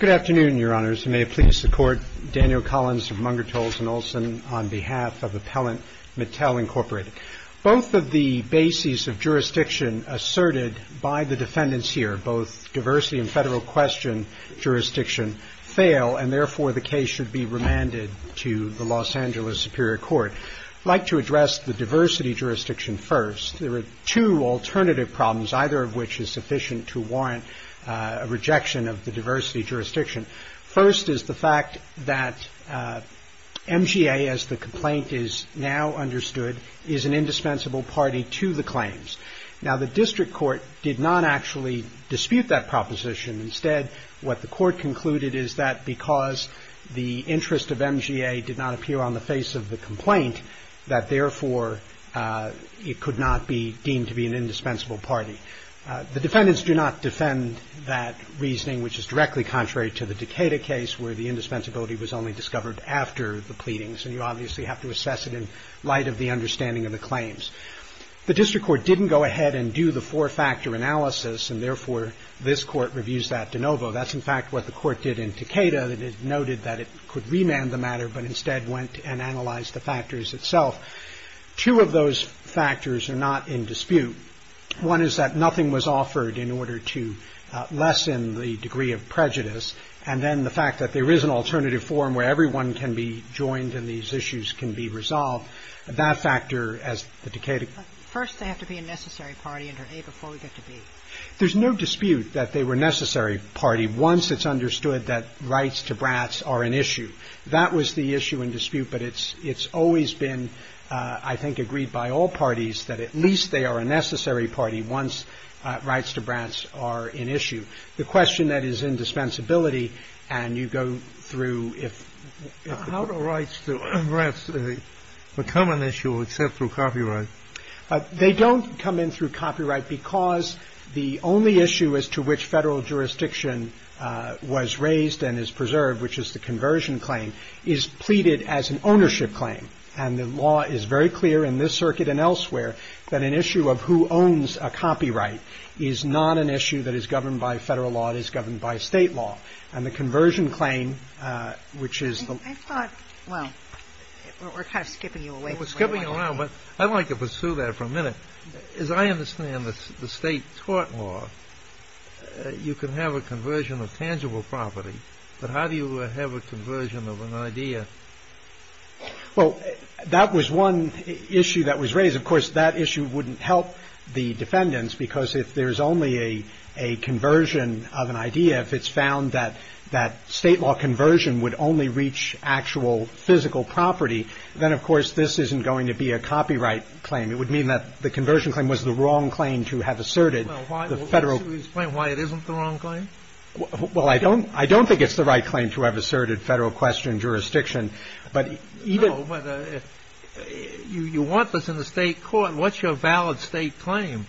Good afternoon, Your Honors, and may it please the Court, Daniel Collins of Mungertals & Olson on behalf of Appellant Mattel, Inc. Both of the bases of jurisdiction asserted by the defendants here, both diversity and federal question jurisdiction, fail, and therefore the case should be remanded to the Los Angeles Superior Court. I'd like to address the diversity jurisdiction first. There are two alternative problems, either of which is sufficient to warrant a rejection of the diversity jurisdiction. First is the fact that MGA, as the complaint is now understood, is an indispensable party to the claims. Now, the district court did not actually dispute that proposition. Instead, what the court concluded is that because the interest of MGA did not appear on the face of the complaint, that therefore it could not be deemed to be an indispensable party. The defendants do not defend that reasoning, which is directly contrary to the Decatur case, where the indispensability was only discovered after the pleadings, and you obviously have to assess it in light of the understanding of the claims. The district court didn't go ahead and do the four-factor analysis, and therefore this Court reviews that de novo. That's, in fact, what the Court did in Decatur, that it noted that it could remand the matter but instead went and analyzed the factors itself. Two of those factors are not in dispute. One is that nothing was offered in order to lessen the degree of prejudice, and then the fact that there is an alternative forum where everyone can be joined and these issues can be resolved, that factor, as the Decatur ---- Kagan. First, they have to be a necessary party under A before we get to B. Roberts. There's no dispute that they were a necessary party once it's understood that rights to brats are an issue. That was the issue in dispute, but it's always been, I think, agreed by all parties that at least they are a necessary party once rights to brats are an issue. The question that is indispensability, and you go through if ---- How do rights to brats become an issue except through copyright? They don't come in through copyright because the only issue as to which Federal jurisdiction was raised and is preserved, which is the conversion claim, is pleaded as an ownership claim, and the law is very clear in this circuit and elsewhere that an issue of who owns a copyright is not an issue that is governed by Federal law, it is governed by State law, and the conversion claim, which is the ---- I thought, well, we're kind of skipping you away from that. We're skipping you around, but I'd like to pursue that for a minute. As I understand it, the State tort law, you can have a conversion of tangible property, but how do you have a conversion of an idea? Well, that was one issue that was raised. Of course, that issue wouldn't help the defendants because if there's only a conversion of an idea, if it's found that State law conversion would only reach actual physical property, then, of course, this isn't going to be a copyright claim. It would mean that the conversion claim was the wrong claim to have asserted the Federal Well, why? Will you explain why it isn't the wrong claim? Well, I don't think it's the right claim to have asserted Federal question jurisdiction, but even ---- No, but if you want this in the State court, what's your valid State claim?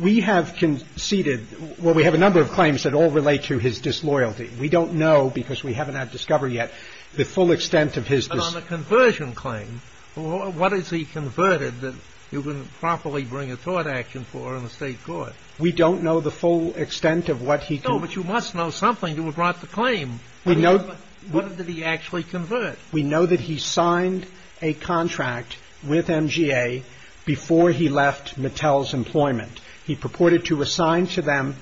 We have conceded, well, we have a number of claims that all relate to his disloyalty. But on the conversion claim, what has he converted that you wouldn't properly bring a tort action for in the State court? We don't know the full extent of what he can No, but you must know something to have brought the claim. We know What did he actually convert? We know that he signed a contract with MGA before he left Mattel's employment. He purported to assign to them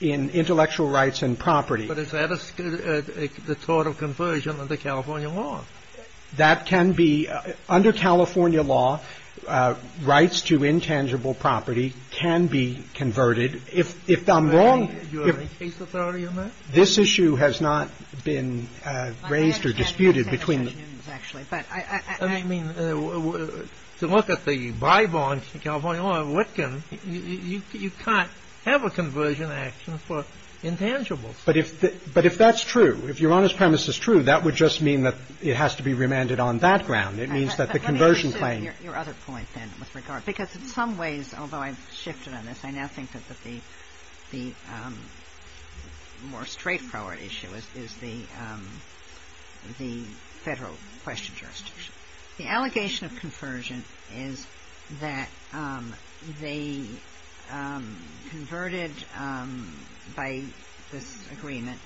intellectual rights and property. But is that a tort of conversion under California law? That can be, under California law, rights to intangible property can be converted. If I'm wrong You have any case authority on that? This issue has not been raised or disputed between I mean, to look at the by-bonds in California law, you can't have a conversion action for intangibles. But if that's true, if Your Honor's premise is true, that would just mean that it has to be remanded on that ground. It means that the conversion claim Your other point, then, with regard, because in some ways, although I've shifted on this, I now think that the more straightforward issue is the Federal question jurisdiction. The allegation of conversion is that they converted by this agreement,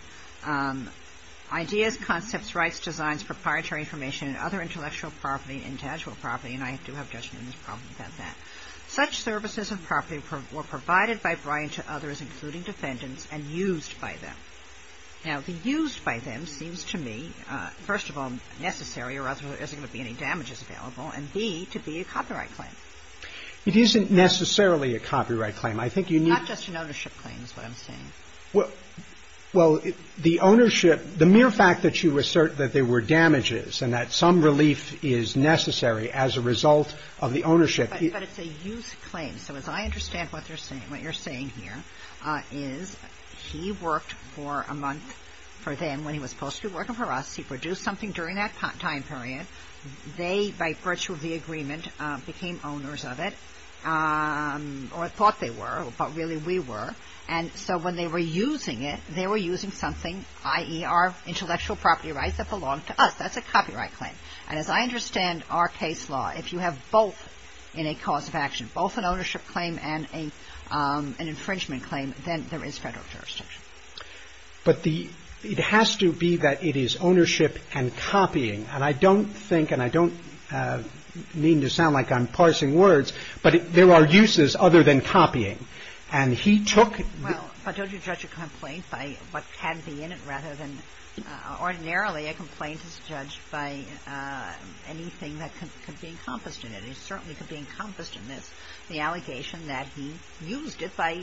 ideas, concepts, rights, designs, proprietary information, and other intellectual property, intangible property. And I do have judgment in this problem about that. Such services of property were provided by Bryan to others, including defendants, and used by them. Now, the used by them seems to me, first of all, necessary or otherwise there isn't going to be any damages available, and B, to be a copyright claim. It isn't necessarily a copyright claim. I think you need Not just an ownership claim is what I'm saying. Well, the ownership, the mere fact that you assert that there were damages and that some relief is necessary as a result of the ownership But it's a used claim. So as I understand what they're saying, what you're saying here is he worked for a month for them when he was supposed to be working for us. He produced something during that time period. They, by virtue of the agreement, became owners of it or thought they were. But really, we were. And so when they were using it, they were using something, i.e. our intellectual property rights that belong to us. That's a copyright claim. And as I understand our case law, if you have both in a cause of action, both an ownership claim and an infringement claim, then there is Federal jurisdiction. But the – it has to be that it is ownership and copying. And I don't think and I don't mean to sound like I'm parsing words, but there are uses other than copying. And he took Well, but don't you judge a complaint by what can be in it rather than – ordinarily a complaint is judged by anything that could be encompassed in it. It certainly could be encompassed in this, the allegation that he used it by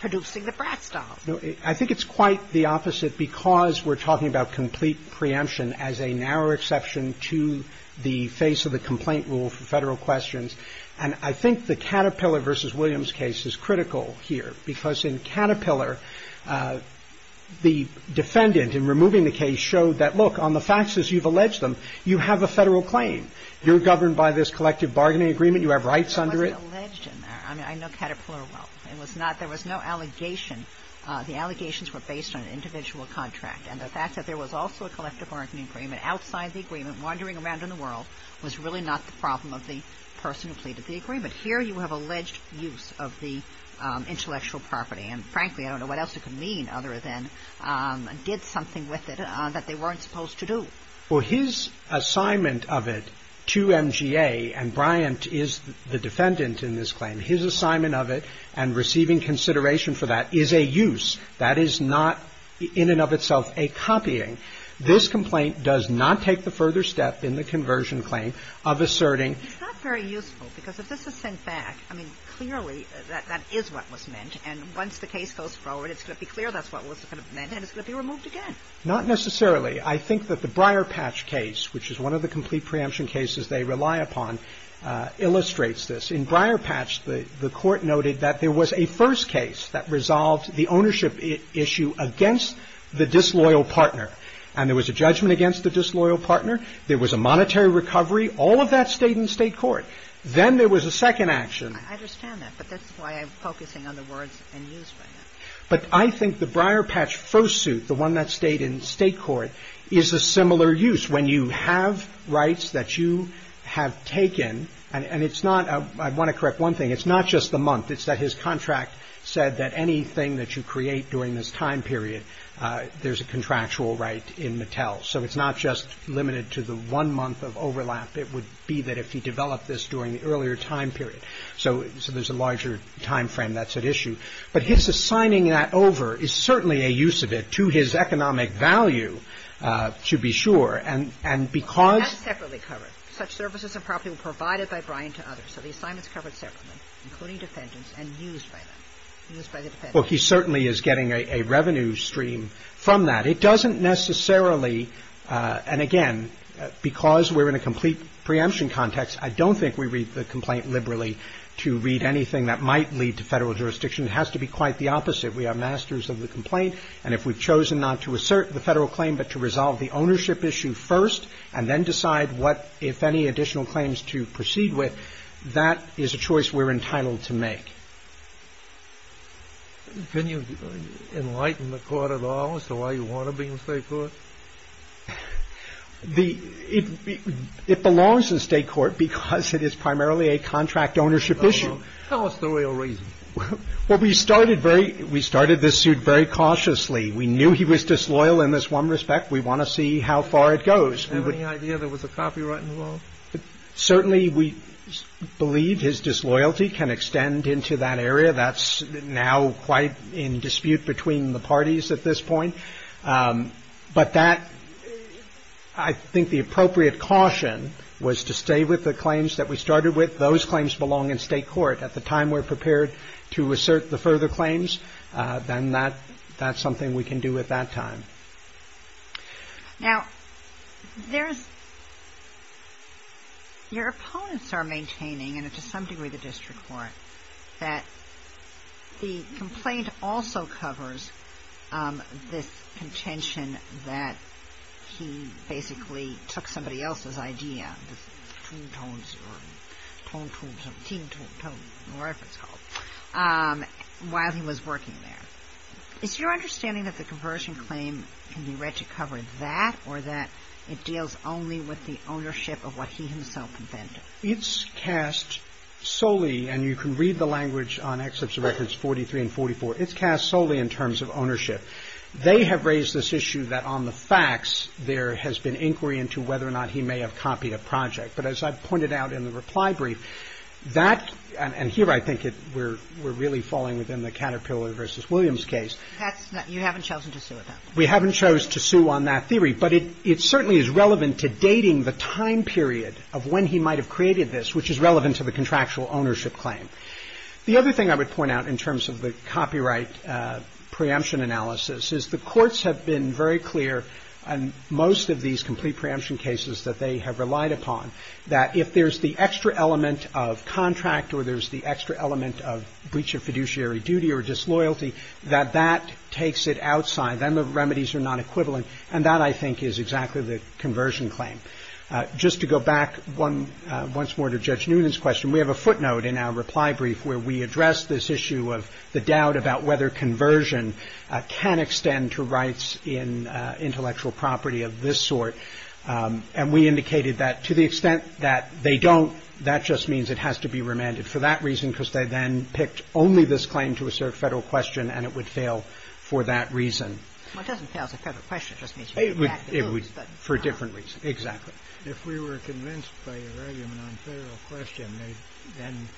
producing the Bratz doll. No. I think it's quite the opposite because we're talking about complete preemption as a narrow exception to the face of the complaint rule for Federal questions. And I think the Caterpillar v. Williams case is critical here because in Caterpillar, the defendant in removing the case showed that, look, on the facts as you've alleged them, you have a Federal claim. You're governed by this collective bargaining agreement. You have rights under it. It wasn't alleged in there. I mean, I know Caterpillar well. It was not – there was no allegation. The allegations were based on an individual contract. And the fact that there was also a collective bargaining agreement outside the agreement wandering around in the world was really not the problem of the person who completed the agreement. Here you have alleged use of the intellectual property. And frankly, I don't know what else it could mean other than did something with it that they weren't supposed to do. Well, his assignment of it to MGA, and Bryant is the defendant in this claim, his assignment of it and receiving consideration for that is a use. That is not in and of itself a copying. This complaint does not take the further step in the conversion claim of asserting. It's not very useful because if this is sent back, I mean, clearly that that is what was meant. And once the case goes forward, it's going to be clear that's what was meant and it's going to be removed again. Not necessarily. I think that the Briarpatch case, which is one of the complete preemption cases they rely upon, illustrates this. In Briarpatch, the court noted that there was a first case that resolved the ownership issue against the disloyal partner. And there was a judgment against the disloyal partner. There was a monetary recovery. All of that stayed in state court. Then there was a second action. I understand that, but that's why I'm focusing on the words and use. But I think the Briarpatch fursuit, the one that stayed in state court, is a similar use when you have rights that you have taken. And it's not. I want to correct one thing. It's not just the month. It's that his contract said that anything that you create during this time period, there's a contractual right in Mattel. So it's not just limited to the one month of overlap. It would be that if he developed this during the earlier time period. So there's a larger time frame that's at issue. But his assigning that over is certainly a use of it to his economic value, to be sure. And because. That's separately covered. Such services and property were provided by Brian to others. So the assignment's covered separately, including defendants and used by them. Well, he certainly is getting a revenue stream from that. It doesn't necessarily. And again, because we're in a complete preemption context, I don't think we read the complaint liberally to read anything that might lead to federal jurisdiction. It has to be quite the opposite. We are masters of the complaint. And if we've chosen not to assert the federal claim, but to resolve the ownership issue first and then decide what, if any additional claims to proceed with, that is a choice we're entitled to make. Can you enlighten the court at all? As to why you want to be in state court. The it belongs in state court because it is primarily a contract ownership issue. Tell us the real reason. Well, we started very we started this suit very cautiously. We knew he was disloyal in this one respect. We want to see how far it goes. We have any idea there was a copyright involved. Certainly, we believe his disloyalty can extend into that area. That's now quite in dispute between the parties at this point. But that I think the appropriate caution was to stay with the claims that we started with. Those claims belong in state court. At the time we're prepared to assert the further claims, then that that's something we can do at that time. Now, there's your opponents are maintaining, and to some degree, the district court, that the complaint also covers this contention that he basically took somebody else's idea. The two tones or tone, tune, tune, tune, whatever it's called, while he was working there, is your understanding that the conversion claim can be read to cover that or that it deals only with the ownership of what he himself intended? It's cast solely and you can read the language on excerpts of records 43 and 44. It's cast solely in terms of ownership. They have raised this issue that on the facts there has been inquiry into whether or not he may have copied a project. But as I pointed out in the reply brief, that, and here I think it, we're, we're really falling within the Caterpillar v. Williams case. You haven't chosen to sue it. We haven't chosen to sue on that theory, but it certainly is relevant to dating the time period of when he might have created this, which is relevant to the contractual ownership claim. The other thing I would point out in terms of the copyright preemption analysis is the courts have been very clear on most of these complete preemption cases that they have relied upon. That if there's the extra element of contract or there's the extra element of breach of fiduciary duty or disloyalty, that that takes it outside. Then the remedies are not equivalent. And that I think is exactly the conversion claim. Just to go back one once more to Judge Noonan's question, we have a footnote in our reply brief where we address this issue of the doubt about whether conversion can extend to rights in intellectual property of this sort. And we indicated that to the extent that they don't, that just means it has to be remanded for that reason, because they then picked only this claim to assert federal question and it would fail for that reason. Well, it doesn't fail as a federal question, it just means for a different reason. Exactly. If we were convinced by your argument on federal question, then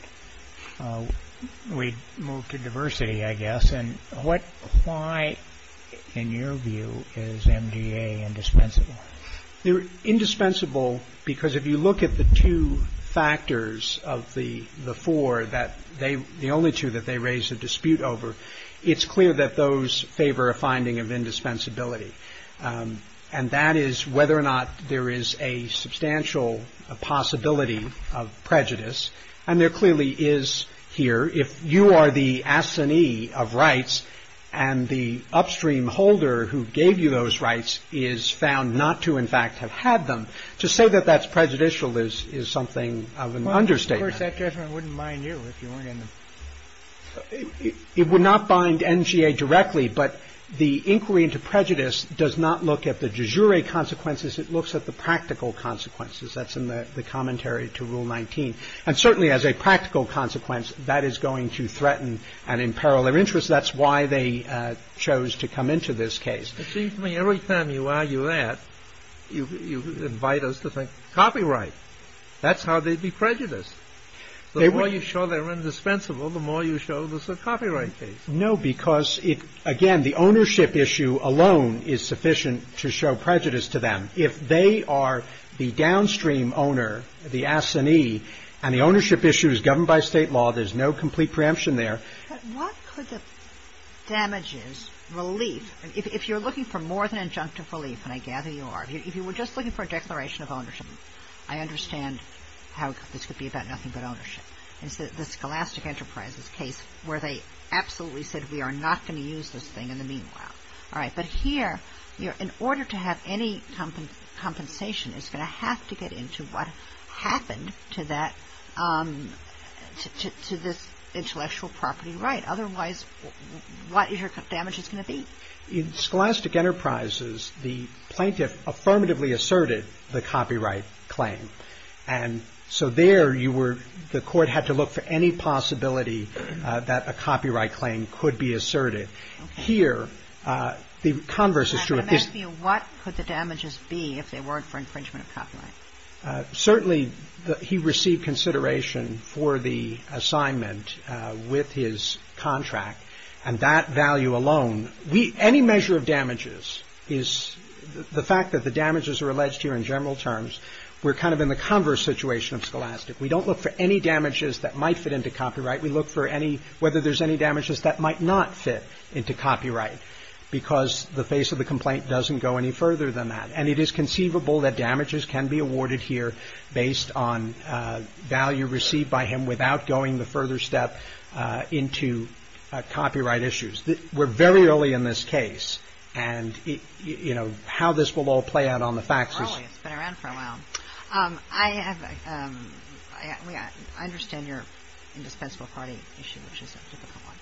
we'd move to diversity, I guess. And what, why, in your view, is MDA indispensable? They're indispensable because if you look at the two factors of the four that they, the only two that they raise a dispute over, it's clear that those favor a finding of indispensability. And that is whether or not there is a substantial possibility of prejudice. And there clearly is here. If you are the assignee of rights and the upstream holder who gave you those rights is found not to, in fact, have had them. To say that that's prejudicial is something of an understatement. Of course, that judgment wouldn't mind you if you weren't in the. It would not bind NGA directly, but the inquiry into prejudice does not look at the de jure consequences. It looks at the practical consequences. That's in the commentary to Rule 19. And certainly as a practical consequence, that is going to threaten and imperil their interests. That's why they chose to come into this case. It seems to me every time you argue that, you invite us to think copyright. That's how they'd be prejudiced. The more you show they're indispensable, the more you show this is a copyright case. No, because again, the ownership issue alone is sufficient to show prejudice to them. If they are the downstream owner, the assignee, and the ownership issue is governed by state law, there's no complete preemption there. What could the damages, relief, if you're looking for more than injunctive relief, and I gather you are, if you were just looking for a declaration of ownership. I understand how this could be about nothing but ownership. It's the Scholastic Enterprises case where they absolutely said we are not going to use this thing in the meanwhile. All right. But here, in order to have any compensation, it's going to have to get into what happened to that, to this intellectual property right. Otherwise, what is your damages going to be? In Scholastic Enterprises, the plaintiff affirmatively asserted the copyright claim. And so there, you were, the court had to look for any possibility that a copyright claim could be asserted. Here, the converse is true. I'm asking you, what could the damages be if they weren't for infringement of copyright? Certainly, he received consideration for the assignment with his contract. And that value alone, any measure of damages is, the fact that the damages are alleged here in general terms, we're kind of in the converse situation of Scholastic. We don't look for any damages that might fit into copyright. We look for any, whether there's any damages that might not fit into copyright because the face of the complaint doesn't go any further than that. And it is conceivable that damages can be awarded here based on value received by him without going the further step into copyright issues. We're very early in this case. And, you know, how this will all play out on the faxes. It's been around for a while. I have, I understand your indispensable party issue, which is a typical one.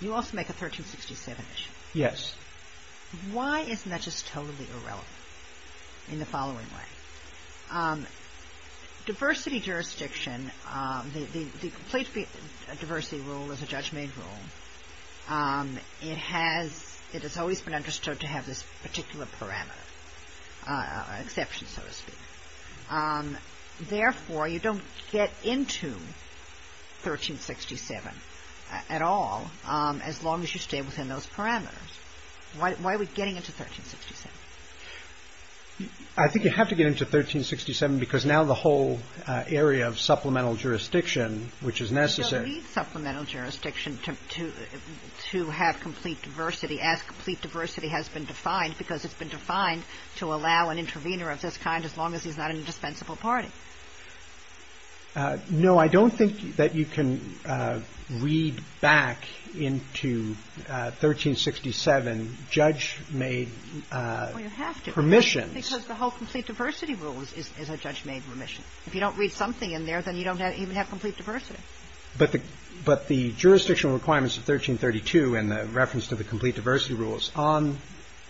You also make a 1367 issue. Yes. Why isn't that just totally irrelevant in the following way? Diversity jurisdiction, the complete diversity rule is a judgment rule. It has always been understood to have this particular parameter, exception, so to speak. Therefore, you don't get into 1367 at all as long as you stay within those parameters. Why are we getting into 1367? I think you have to get into 1367 because now the whole area of supplemental jurisdiction, which is necessary. You don't need supplemental jurisdiction to have complete diversity as complete diversity has been defined because it's been defined to allow an intervener of this kind as long as he's not an indispensable party. No, I don't think that you can read back into 1367 judge-made permissions. Because the whole complete diversity rule is a judge-made permission. If you don't read something in there, then you don't even have complete diversity. But the jurisdictional requirements of 1332 and the reference to the complete diversity rules on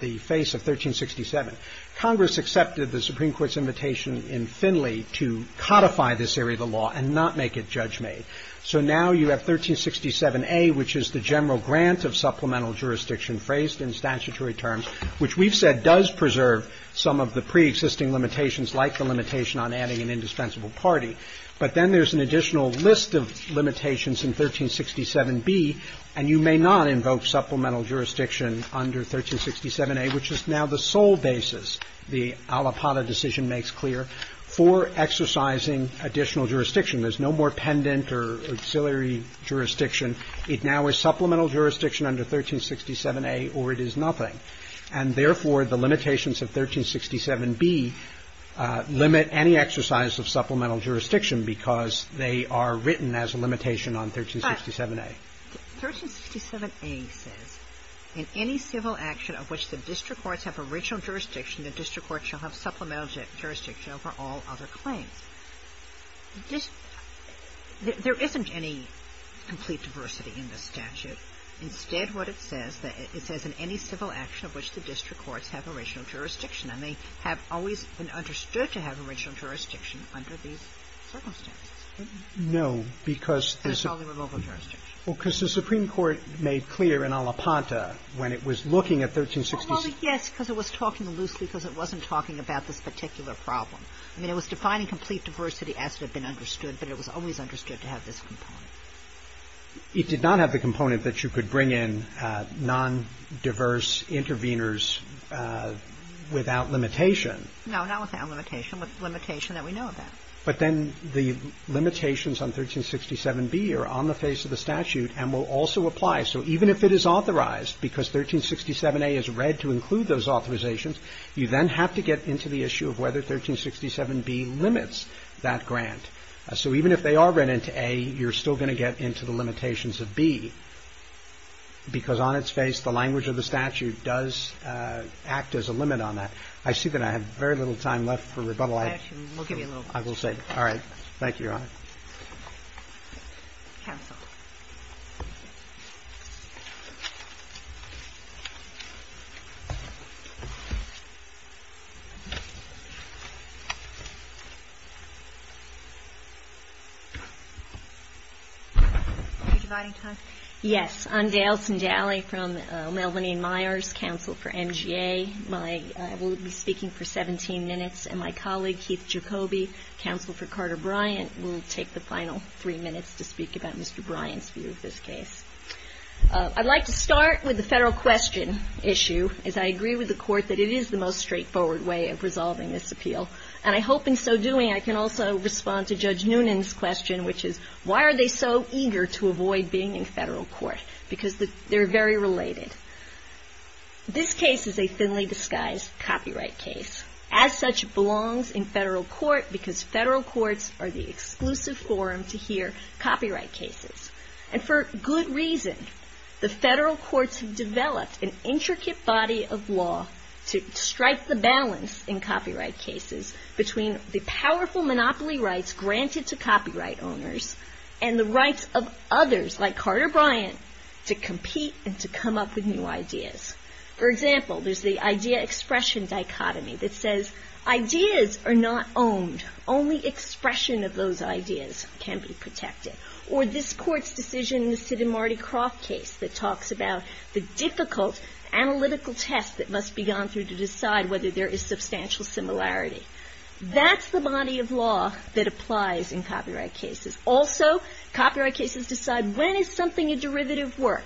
the face of 1367, Congress accepted the Supreme Court's invitation in Finley to codify this area of the law and not make it judge-made. So now you have 1367A, which is the general grant of supplemental jurisdiction phrased in statutory terms, which we've said does preserve some of the pre-existing limitations like the limitation on adding an indispensable party. But then there's an additional list of limitations in 1367B, and you may not invoke supplemental jurisdiction under 1367A, which is now the sole basis. The Alipata decision makes clear, for exercising additional jurisdiction, there's no more pendant or auxiliary jurisdiction. It now is supplemental jurisdiction under 1367A or it is nothing. And therefore, the limitations of 1367B limit any exercise of supplemental jurisdiction because they are written as a limitation on 1367A. 1367A says, in any civil action of which the district courts have original jurisdiction, the district court shall have supplemental jurisdiction over all other claims. There isn't any complete diversity in the statute. Instead, what it says, it says in any civil action of which the district courts have original jurisdiction. And they have always been understood to have original jurisdiction under these circumstances. No, because the Supreme Court made clear in Alipata when it was looking at 1366. Yes, because it was talking loosely because it wasn't talking about this particular problem. I mean, it was defining complete diversity as to have been understood, but it was always understood to have this component. It did not have the component that you could bring in non-diverse interveners without limitation. No, not without limitation, but limitation that we know about. But then the limitations on 1367B are on the face of the statute and will also apply. So even if it is authorized, because 1367A is read to include those authorizations, you then have to get into the issue of whether 1367B limits that grant. So even if they are read into A, you're still going to get into the limitations of B. Because on its face, the language of the statute does act as a limit on that. I see that I have very little time left for rebuttal. I will give you a little. I will say. All right. Thank you, Your Honor. Yes, I'm Daleson Dalley from Melvinian Myers Council for MGA. I will be speaking for 17 minutes, and my colleague, Keith Jacoby, Counsel for Carter Bryant, will take the final three minutes to speak about Mr. Bryant's view of this case. I'd like to start with the federal question issue, as I agree with the Court that it is the most straightforward way of resolving this appeal. And I hope in so doing, I can also respond to Judge Noonan's question, which is, why are they so eager to avoid being in federal court? Because they're very related. This case is a thinly disguised copyright case. As such, it belongs in federal court because federal courts are the exclusive forum to hear copyright cases. And for good reason. The federal courts have developed an intricate body of law to strike the balance in copyright cases between the powerful monopoly rights granted to copyright owners and the rights of others, like Carter Bryant, to compete and to come up with new laws. New ideas. For example, there's the idea-expression dichotomy that says, ideas are not owned. Only expression of those ideas can be protected. Or this Court's decision in the Sid and Marty Croft case that talks about the difficult analytical test that must be gone through to decide whether there is substantial similarity. That's the body of law that applies in copyright cases. Also, copyright cases decide when is something a derivative work?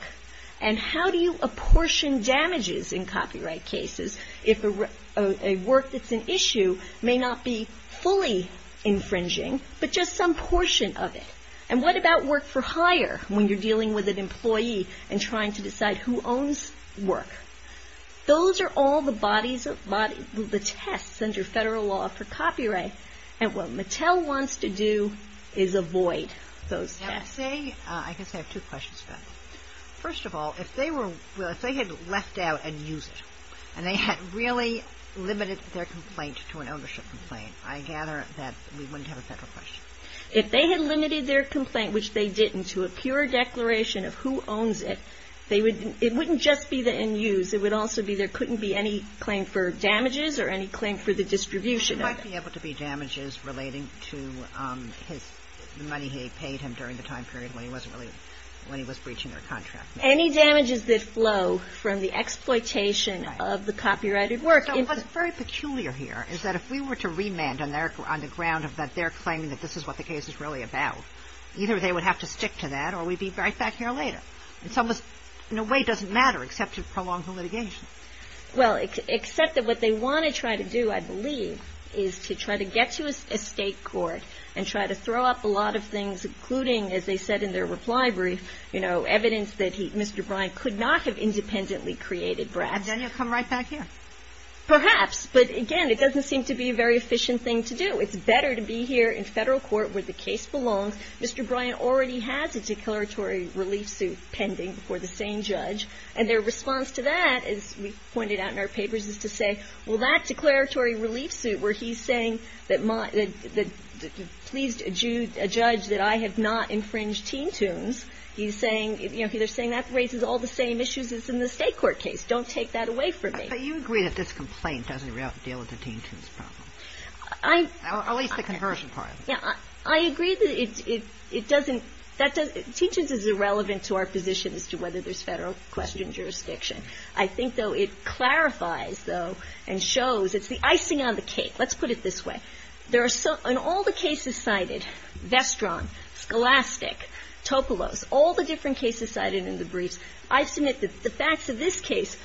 And how do you apportion damages in copyright cases if a work that's an issue may not be fully infringing, but just some portion of it? And what about work for hire when you're dealing with an employee and trying to decide who owns work? Those are all the bodies of, the tests under federal law for copyright. And what Mattel wants to do is avoid those tests. I guess I have two questions about that. First of all, if they had left out and used it, and they had really limited their complaint to an ownership complaint, I gather that we wouldn't have a federal question. If they had limited their complaint, which they didn't, to a pure declaration of who owns it, it wouldn't just be the end use. It would also be there couldn't be any claim for damages or any claim for the distribution of it. There might be able to be damages relating to his, the money he paid him during the time period when he wasn't really, when he was breaching their contract. Any damages that flow from the exploitation of the copyrighted work. So what's very peculiar here is that if we were to remand on their, on the ground of that they're claiming that this is what the case is really about, either they would have to stick to that or we'd be right back here later. And so it was, in a way, doesn't matter except to prolong the litigation. Well, except that what they want to try to do, I believe, is to try to get to a state court and try to throw up a lot of things, including, as they said in their reply brief, you know, evidence that he, Mr. Bryant could not have independently created BRADS. And then you'll come right back here. Perhaps. But again, it doesn't seem to be a very efficient thing to do. It's better to be here in federal court where the case belongs. Mr. Bryant already has a declaratory relief suit pending before the same judge. And their response to that, as we pointed out in our papers, is to say, well, that declaratory relief suit where he's saying that pleased a judge that I have not infringed Teen Toons, he's saying, you know, they're saying that raises all the same issues as in the state court case. Don't take that away from me. But you agree that this complaint doesn't deal with the Teen Toons problem? I. At least the conversion part of it. I agree that it doesn't, that doesn't, Teen Toons is irrelevant to our position as to whether there's federal question jurisdiction. I think, though, it clarifies, though, and shows it's the icing on the cake. Let's put it this way. There are so, in all the cases cited, Vestron, Scholastic, Topolos, all the different cases cited in the briefs, I submit that the facts of this case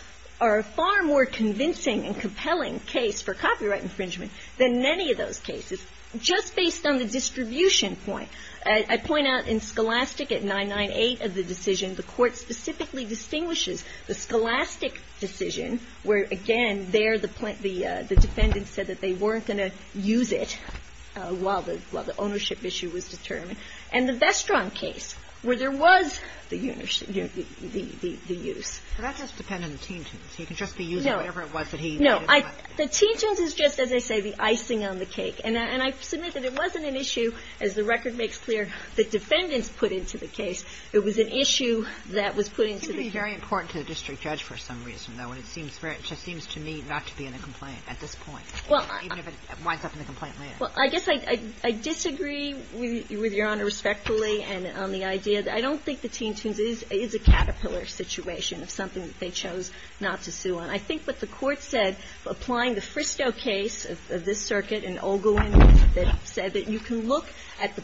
are far more convincing and compelling case for copyright infringement than many of those cases. Just based on the distribution point, I point out in Scholastic, at 998 of the decision, the court specifically distinguishes the Scholastic decision where, again, there the defendant said that they weren't going to use it while the ownership issue was determined, and the Vestron case where there was the use. So that just depended on the Teen Toons. He could just be using whatever it was that he wanted to use. No. The Teen Toons is just, as I say, the icing on the cake. And I submit that it wasn't an issue, as the record makes clear, that defendants put into the case. It was an issue that was put into the case. It would be very important to the district judge for some reason, though, when it seems to me not to be in a complaint at this point, even if it winds up in the complaint later. Well, I guess I disagree with Your Honor respectfully on the idea. I don't think the Teen Toons is a caterpillar situation of something that they chose not to sue on. I think what the court said, applying the Fristow case of this circuit and Ogilvy, that said that you can look at the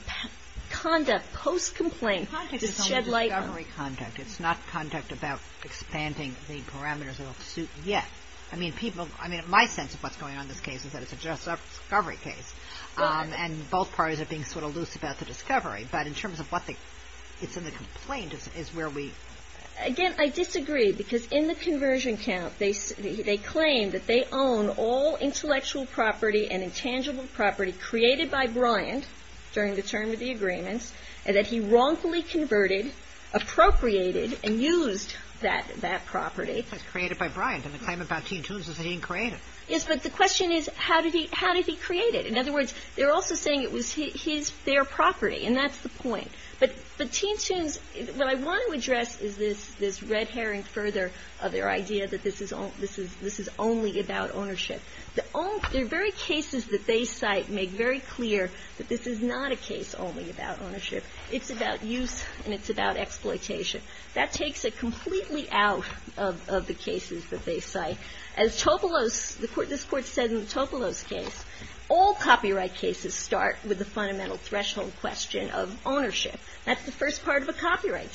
conduct post-complaint to shed light on. The conduct is on the discovery conduct. It's not conduct about expanding the parameters of a suit yet. I mean, people, I mean, my sense of what's going on in this case is that it's a just discovery case, and both parties are being sort of loose about the discovery. But in terms of what they, it's in the complaint is where we. Again, I disagree, because in the conversion count, they say they claim that they own all intellectual property and intangible property created by Bryant during the term of the agreements and that he wrongfully converted, appropriated and used that that property created by Bryant and the claim about Teen Toons is that he didn't create it. Yes, but the question is, how did he, how did he create it? In other words, they're also saying it was his, their property. And that's the point. But, but Teen Toons, what I want to address is this, this red herring further of their idea that this is all, this is, this is only about ownership. The only, the very cases that they cite make very clear that this is not a case only about ownership. It's about use, and it's about exploitation. That takes it completely out of the cases that they cite. As Topolos, the court, this court said in the Topolos case, all copyright cases start with the fundamental threshold question of ownership. That's the first part of a copyright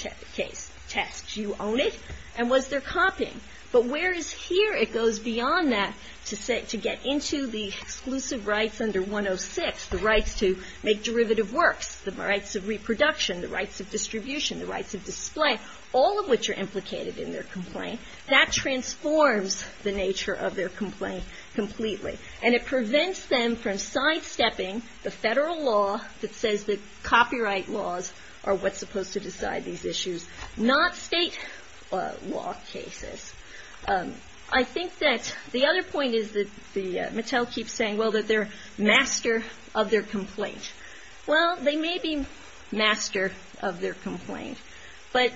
test, you own it, and was there copying? But whereas here, it goes beyond that to say, to get into the exclusive rights under 106, the rights to make derivative works, the rights of reproduction, the rights of distribution, the rights of display, all of which are implicated in their complaint. That transforms the nature of their complaint completely. And it prevents them from sidestepping the federal law that says that copyright laws are what's supposed to decide these issues, not state law cases. I think that the other point is that the, Mattel keeps saying, well, that they're master of their complaint. Well, they may be master of their complaint, but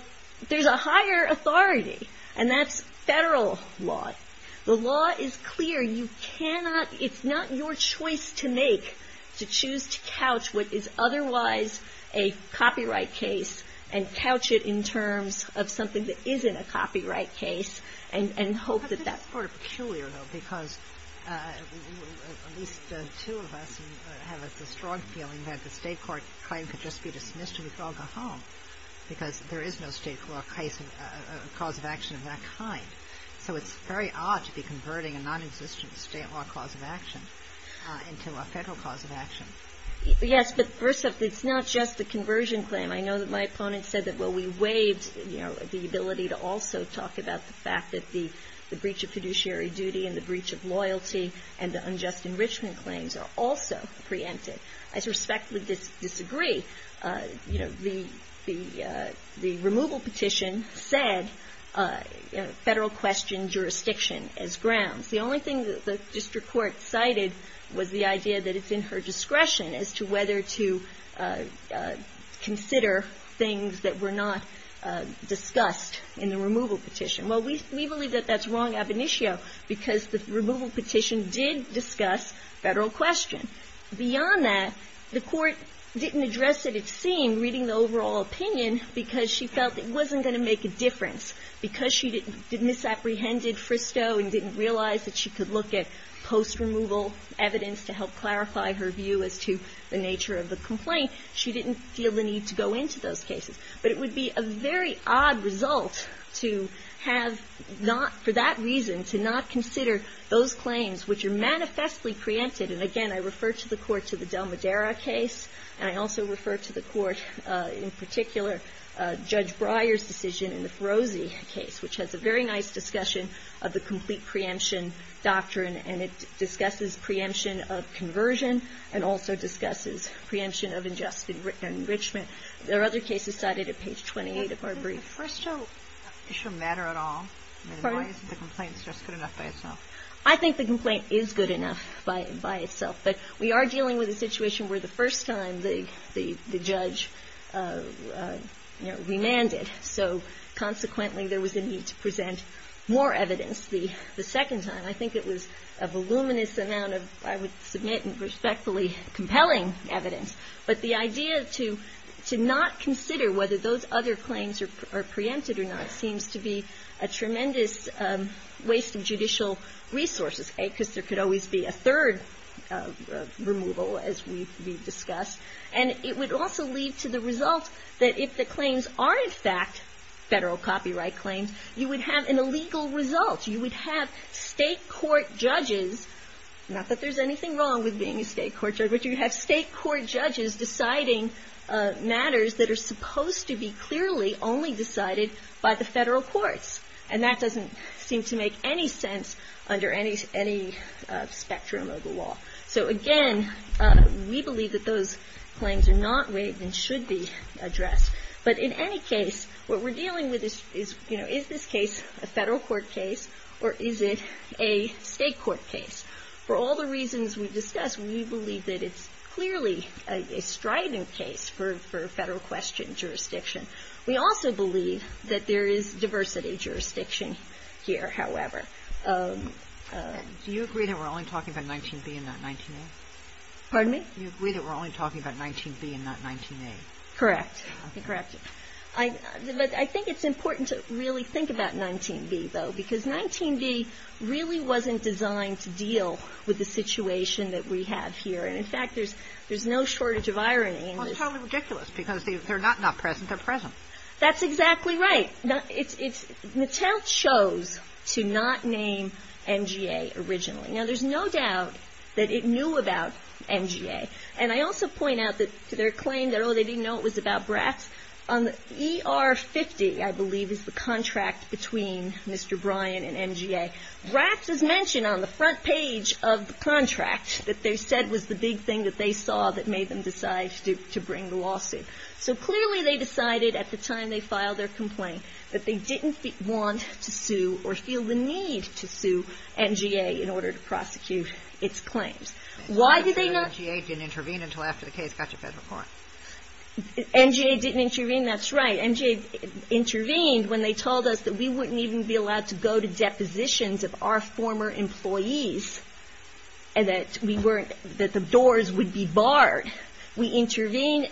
there's a higher authority. And that's federal law. The law is clear. You cannot, it's not your choice to make, to choose to couch what is otherwise a copyright case and couch it in terms of something that isn't a copyright case and hope that that's. It's sort of peculiar, though, because at least the two of us have a strong feeling that the state court claim could just be dismissed and we'd all go home because there is no state law cause of action of that kind. So it's very odd to be converting a non-existent state law cause of action into a federal cause of action. Yes, but first off, it's not just the conversion claim. I know that my opponent said that, well, we waived, you know, the ability to also talk about the fact that the breach of fiduciary duty and the breach of loyalty and the unjust enrichment claims are also preempted. I respectfully disagree. You know, the removal petition said federal question jurisdiction as grounds. The only thing that the district court cited was the idea that it's in her discretion as to whether to consider things that were not discussed in the removal petition. Well, we believe that that's wrong ab initio because the removal petition did discuss federal question. Beyond that, the court didn't address it. And I think that's what we've seen, reading the overall opinion, because she felt it wasn't going to make a difference, because she misapprehended Fristow and didn't realize that she could look at post-removal evidence to help clarify her view as to the nature of the complaint, she didn't feel the need to go into those cases. But it would be a very odd result to have not, for that reason, to not consider those claims which are manifestly preempted. And, again, I refer to the court to the Del Madera case, and I also refer to the court, in particular, Judge Breyer's decision in the Ferozzi case, which has a very nice discussion of the complete preemption doctrine. And it discusses preemption of conversion and also discusses preemption of unjust enrichment. There are other cases cited at page 28 of our brief. First of all, does Fristow matter at all? I mean, why isn't the complaint just good enough by itself? I think the complaint is good enough by itself. But we are dealing with a situation where the first time the judge, you know, remanded, so consequently there was a need to present more evidence the second time. I think it was a voluminous amount of, I would submit, respectfully compelling evidence. But the idea to not consider whether those other claims are preempted or not seems to be a tremendous waste of judicial resources, because there could always be a third removal, as we've discussed. And it would also lead to the result that if the claims are, in fact, Federal copyright claims, you would have an illegal result. You would have state court judges, not that there's anything wrong with being a state court judge, but you have state court judges deciding matters that are supposed to be clearly only decided by the Federal courts. And that doesn't seem to make any sense under any spectrum of the law. So, again, we believe that those claims are not waived and should be addressed. But in any case, what we're dealing with is, you know, is this case a Federal court case or is it a state court case? For all the reasons we've discussed, we believe that it's clearly a strident case for Federal question jurisdiction. We also believe that there is diversity jurisdiction here, however. Do you agree that we're only talking about 19b and not 19a? Pardon me? Do you agree that we're only talking about 19b and not 19a? Correct. I think it's important to really think about 19b, though, because 19b really wasn't designed to deal with the situation that we have here. And, in fact, there's there's no shortage of irony in this. It's totally ridiculous because they're not not present. They're present. That's exactly right. Now, it's it's Mattel chose to not name NGA originally. Now, there's no doubt that it knew about NGA. And I also point out that their claim that, oh, they didn't know it was about Bratz on the E.R. 50, I believe, is the contract between Mr. Bryan and NGA. Bratz is mentioned on the front page of the contract that they said was the big thing that they saw that made them decide to bring the lawsuit. So clearly they decided at the time they filed their complaint that they didn't want to sue or feel the need to sue NGA in order to prosecute its claims. Why did they not intervene until after the case got to federal court? NGA didn't intervene. That's right. NGA intervened when they told us that we wouldn't even be allowed to go to depositions of our former employees and that we weren't that the doors would be barred. We intervene.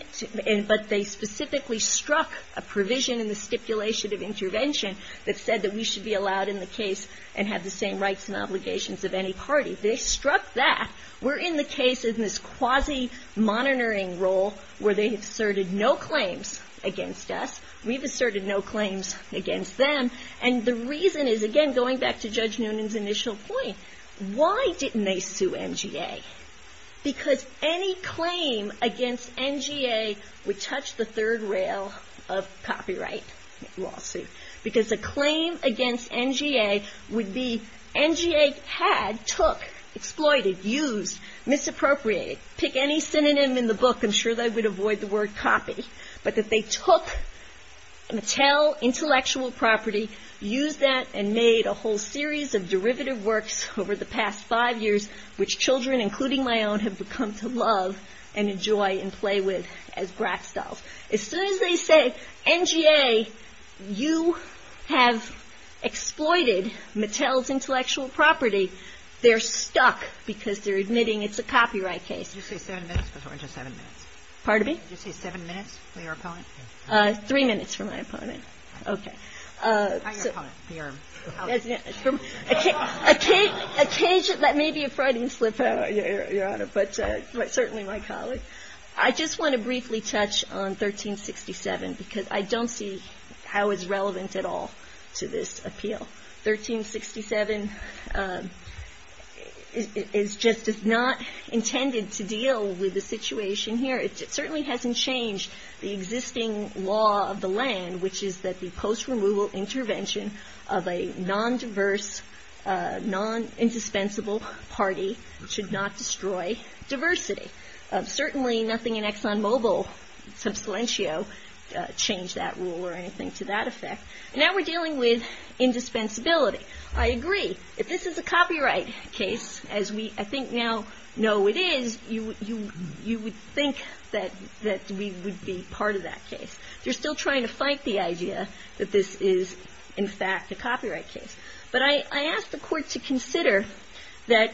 But they specifically struck a provision in the stipulation of intervention that said that we should be allowed in the case and have the same rights and obligations of any party. They struck that. We're in the case in this quasi-monitoring role where they asserted no claims against us. We've asserted no claims against them. And the reason is, again, going back to Judge Noonan's initial point, why didn't they sue NGA? Because any claim against NGA would touch the third rail of copyright lawsuit. Because a claim against NGA would be NGA had, took, exploited, used, misappropriated, pick any synonym in the book, I'm sure they would avoid the word copy. But that they took Mattel intellectual property, used that, and made a whole series of derivative works over the past five years, which children, including my own, have come to love and enjoy and play with as Bratz dolls. As soon as they say, NGA, you have exploited Mattel's intellectual property, they're stuck because they're admitting it's a copyright case. Did you say seven minutes or just seven minutes? Pardon me? Did you say seven minutes for your opponent? Three minutes for my opponent. Okay. How your opponent? Occasionally, that may be a frightening slip-up, Your Honor, but certainly my colleague. I just want to briefly touch on 1367 because I don't see how it's relevant at all to this appeal. 1367 is just not intended to deal with the situation here. It certainly hasn't changed the existing law of the land, which is that the post-removal intervention of a non-diverse, non-indispensable party should not destroy diversity. Certainly nothing in ExxonMobil, Subsilentio, changed that rule or anything to that effect. Now we're dealing with indispensability. I agree. If this is a copyright case, as we I think now know it is, you would think that we would be part of that case. They're still trying to fight the idea that this is, in fact, a copyright case. But I ask the Court to consider that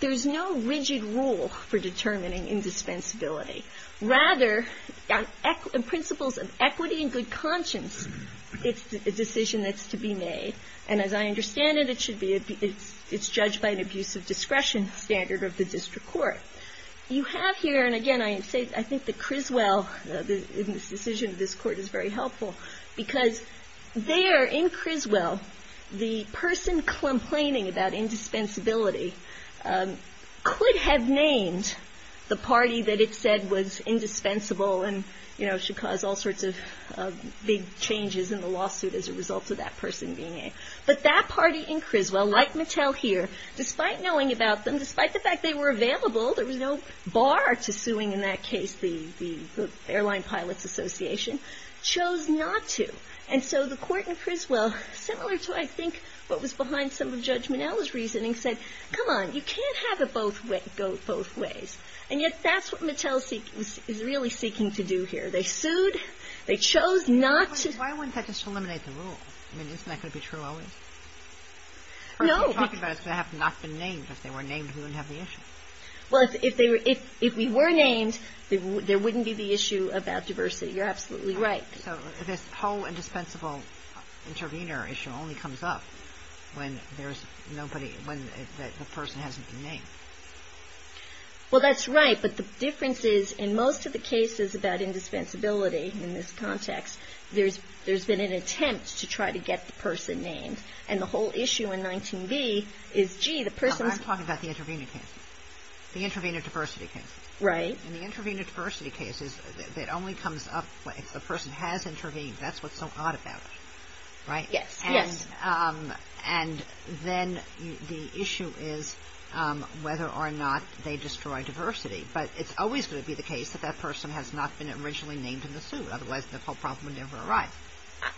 there's no rigid rule for determining indispensability. Rather, in principles of equity and good conscience, it's a decision that's to be made. And as I understand it, it should be, it's judged by an abuse of discretion standard of the district court. You have here, and again, I think that Criswell, in this decision of this Court, is very helpful because there in Criswell, the person complaining about indispensability could have named the party that it said was indispensable and, you know, could cause all sorts of big changes in the lawsuit as a result of that person being there. But that party in Criswell, like Mattel here, despite knowing about them, despite the fact they were available, there was no bar to suing in that case, the Airline Pilots Association, chose not to. And so the Court in Criswell, similar to, I think, what was behind some of Judge Monell's reasoning, said, come on, you can't have it go both ways. And yet that's what Mattel is really seeking to do here. They sued, they chose not to. But why wouldn't that just eliminate the rule? I mean, isn't that going to be true always? No. We're talking about if they have not been named, if they were named, we wouldn't have the issue. Well, if they were, if we were named, there wouldn't be the issue about diversity. You're absolutely right. So this whole indispensable intervener issue only comes up when there's nobody, when the person hasn't been named. Well, that's right. But the difference is, in most of the cases about indispensability in this context, there's been an attempt to try to get the person named. And the whole issue in 19b is, gee, the person's. I'm talking about the intervener case, the intervener diversity case. Right. And the intervener diversity case is that it only comes up if the person has intervened. That's what's so odd about it. Right. Yes. And and then the issue is whether or not they destroy diversity. But it's always going to be the case that that person has not been originally named in the suit. Otherwise, the whole problem would never arrive.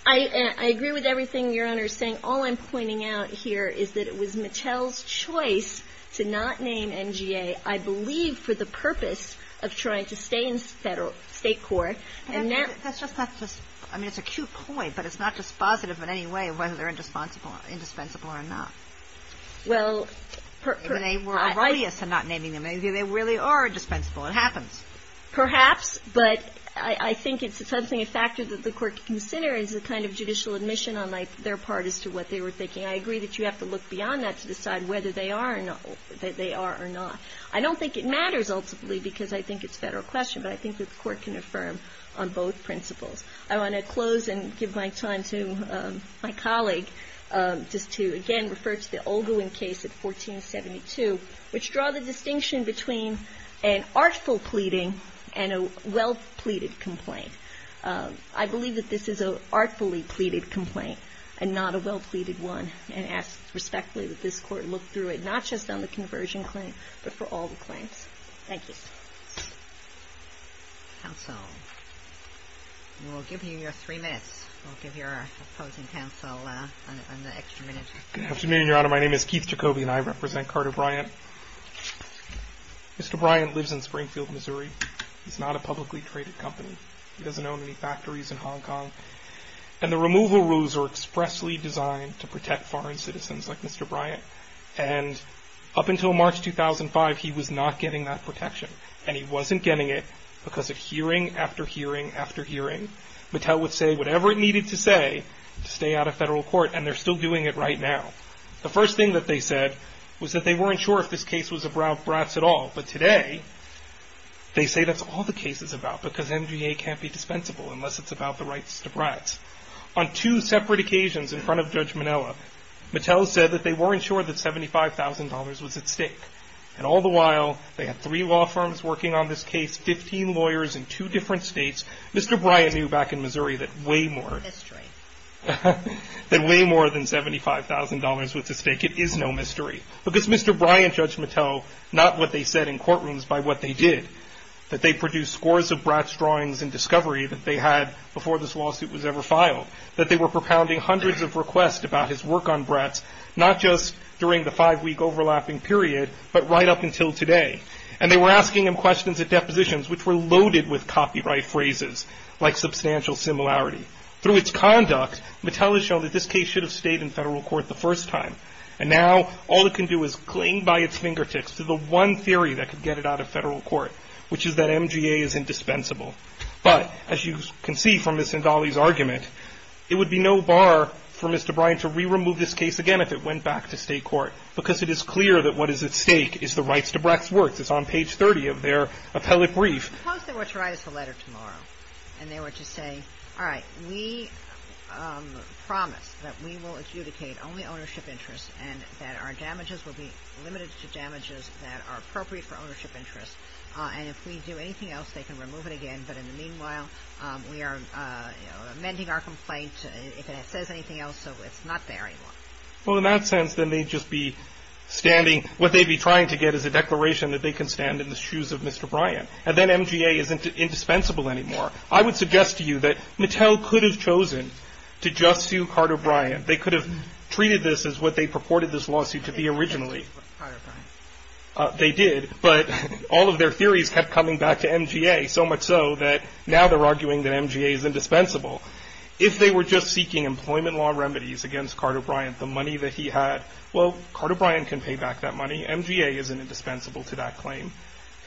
I agree with everything your Honor is saying. All I'm pointing out here is that it was Mattel's choice to not name NGA, I believe, for the purpose of trying to stay in federal state court. And that's just not just I mean, it's a cute point, but it's not just positive in any way of whether they're indispensable or not. Well, they were righteous and not naming them. Maybe they really are dispensable. It happens perhaps. But I think it's something a factor that the court can consider is the kind of judicial admission on their part as to what they were thinking. I agree that you have to look beyond that to decide whether they are or not that they are or not. I don't think it matters, ultimately, because I think it's a federal question. But I think that the court can affirm on both principles. I want to close and give my time to my colleague just to, again, refer to the Olguin case at 1472, which draw the distinction between an artful pleading and a well-pleaded complaint. I believe that this is an artfully pleaded complaint and not a well-pleaded one. And I ask respectfully that this court look through it, not just on the conversion claim, but for all the claims. Thank you. Counsel, we'll give you your three minutes. We'll give your opposing counsel an extra minute. Good afternoon, Your Honor. My name is Keith Jacoby and I represent Carter Bryant. Mr. Bryant lives in Springfield, Missouri. He's not a publicly traded company. He doesn't own any factories in Hong Kong. And the removal rules are expressly designed to protect foreign citizens like Mr. Bryant. And up until March 2005, he was not getting that protection and he wasn't getting it. Because of hearing after hearing after hearing, Mattel would say whatever it needed to say to stay out of federal court. And they're still doing it right now. The first thing that they said was that they weren't sure if this case was about Bratz at all. But today, they say that's all the case is about because MGA can't be dispensable unless it's about the rights to Bratz. On two separate occasions in front of Judge Minella, Mattel said that they weren't sure that $75,000 was at stake. And all the while, they had three law firms working on this case, 15 lawyers in two different states. Mr. Bryant knew back in Missouri that way more than way more than $75,000 was at stake. It is no mystery because Mr. Bryant, Judge Mattel, not what they said in courtrooms by what they did, that they produced scores of Bratz drawings and discovery that they had before this lawsuit was ever filed, that they were propounding hundreds of requests about his work on Bratz, not just during the five-week overlapping period, but right up until today. And they were asking him questions at depositions, which were loaded with copyright phrases like substantial similarity. Through its conduct, Mattel has shown that this case should have stayed in federal court the first time. And now all it can do is cling by its fingertips to the one theory that could get it out of federal court, which is that MGA is going to remove this case again if it went back to state court, because it is clear that what is at stake is the rights to Bratz works. It's on page 30 of their appellate brief. Suppose they were to write us a letter tomorrow and they were to say, all right, we promise that we will adjudicate only ownership interests and that our damages will be limited to damages that are appropriate for ownership interests. And if we do anything else, they can remove it again. But in the meanwhile, we are amending our complaint if it says anything else. So it's not there anymore. Well, in that sense, then they'd just be standing. What they'd be trying to get is a declaration that they can stand in the shoes of Mr. Bryant. And then MGA isn't indispensable anymore. I would suggest to you that Mattel could have chosen to just sue Carter Bryant. They could have treated this as what they purported this lawsuit to be originally. Carter Bryant. They did. But all of their theories kept coming back to MGA, so much so that now they're arguing that MGA is indispensable. If they were just seeking employment law remedies against Carter Bryant, the money that he had. Well, Carter Bryant can pay back that money. MGA isn't indispensable to that claim.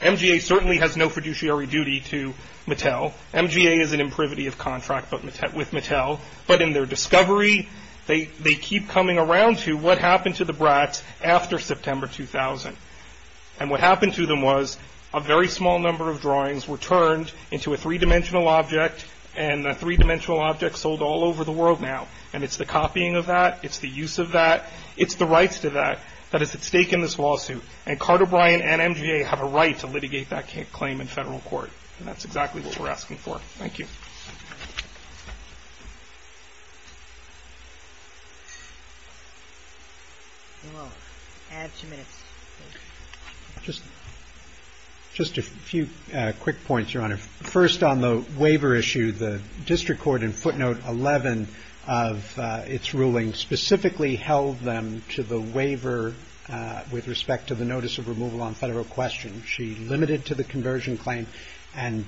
MGA certainly has no fiduciary duty to Mattel. MGA is an imprivity of contract with Mattel. But in their discovery, they keep coming around to what happened to the Brats after September 2000. And what happened to them was a very small number of drawings were turned into a three-dimensional object and a three-dimensional object sold all over the world now. And it's the copying of that. It's the use of that. It's the rights to that that is at stake in this lawsuit. And Carter Bryant and MGA have a right to litigate that claim in federal court. And that's exactly what we're asking for. Thank you. And we'll add two minutes. Just a few quick points, Your Honor. First, on the waiver issue, the district court in footnote 11 of its ruling specifically held them to the waiver with respect to the notice of removal on federal question. She limited to the conversion claim and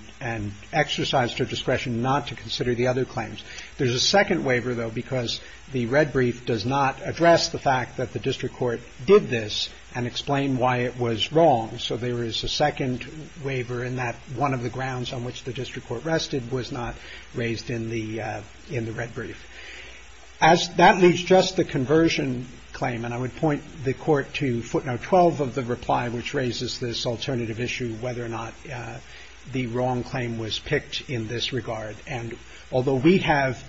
exercised her discretion not to consider the other claims. There's a second waiver, though, because the red brief does not address the fact that the district court did this and explain why it was wrong. So there is a second waiver in that one of the grounds on which the district court rested was not raised in the in the red brief as that leaves just the conversion claim. And I would point the court to footnote 12 of the reply, which raises this alternative issue, whether or not the wrong claim was picked in this regard. And although we have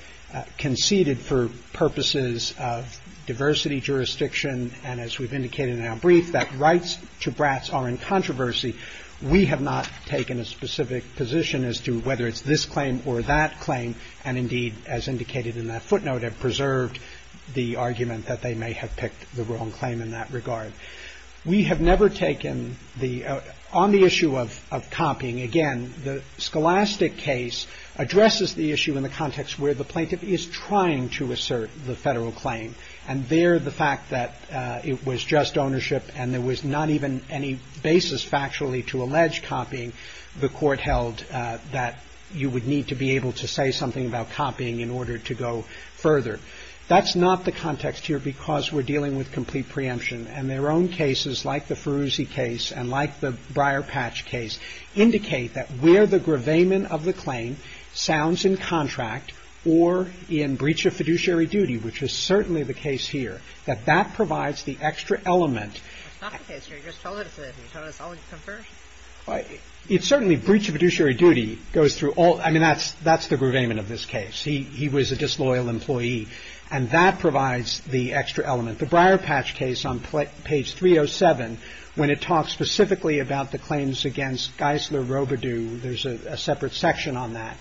conceded for purposes of diversity jurisdiction and as we've indicated in our brief, that rights to Bratz are in controversy. We have not taken a specific position as to whether it's this claim or that claim. And indeed, as indicated in that footnote, have preserved the argument that they may have picked the wrong claim in that regard. We have never taken the on the issue of copying. Again, the scholastic case addresses the issue in the context where the plaintiff is trying to assert the federal claim. And there, the fact that it was just ownership and there was not even any basis factually to allege copying the court held that you would need to be able to say something about copying in order to go further. That's not the context here because we're dealing with complete preemption and their own cases like the Feruzi case and like the Breyer patch case indicate that where the gravamen of the claim sounds in contract or in breach of fiduciary duty, which is certainly the case here, that that provides the extra element. It's certainly breach of fiduciary duty goes through all. I mean, that's that's the gravamen of this case. He he was a disloyal employee and that provides the extra element. The Breyer patch case on page 307 when it talks specifically about the claims against Geisler Robidoux, there's a separate section on that,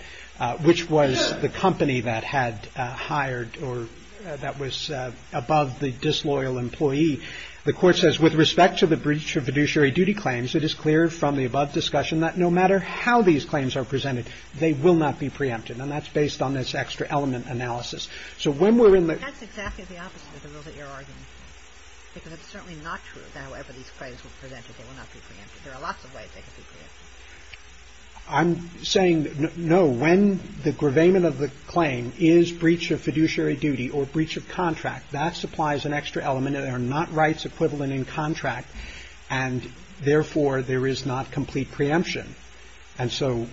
which was the company that had hired or that was above the disloyal employee. The court says with respect to the breach of fiduciary duty claims, it is clear from the above discussion that no matter how these claims are presented, they will not be preempted. And that's based on this extra element analysis. So when we're in the that's exactly the opposite of the rule that you're arguing, because it's certainly not true. However, these claims will present that they will not be preempted. There are lots of ways they could be. I'm saying no, when the gravamen of the claim is breach of fiduciary duty or breach of contract that supplies an extra element that are not rights equivalent in contract and therefore there is not complete preemption. And so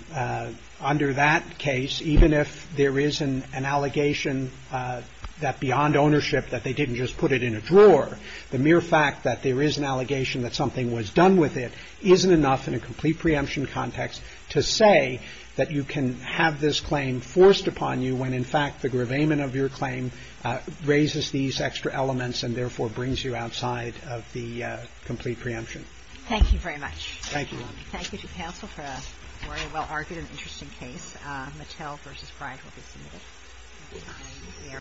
under that case, even if there is an allegation that beyond ownership that they didn't just put it in a drawer, the mere fact that there is an allegation that something was done with it isn't enough in a complete preemption context to say that you can have this claim forced upon you when, in fact, the gravamen of your claim raises these extra elements and therefore brings you outside of the complete preemption. Thank you very much. Thank you. Thank you to counsel for a very well-argued and interesting case. Mattel versus Pride will be submitted.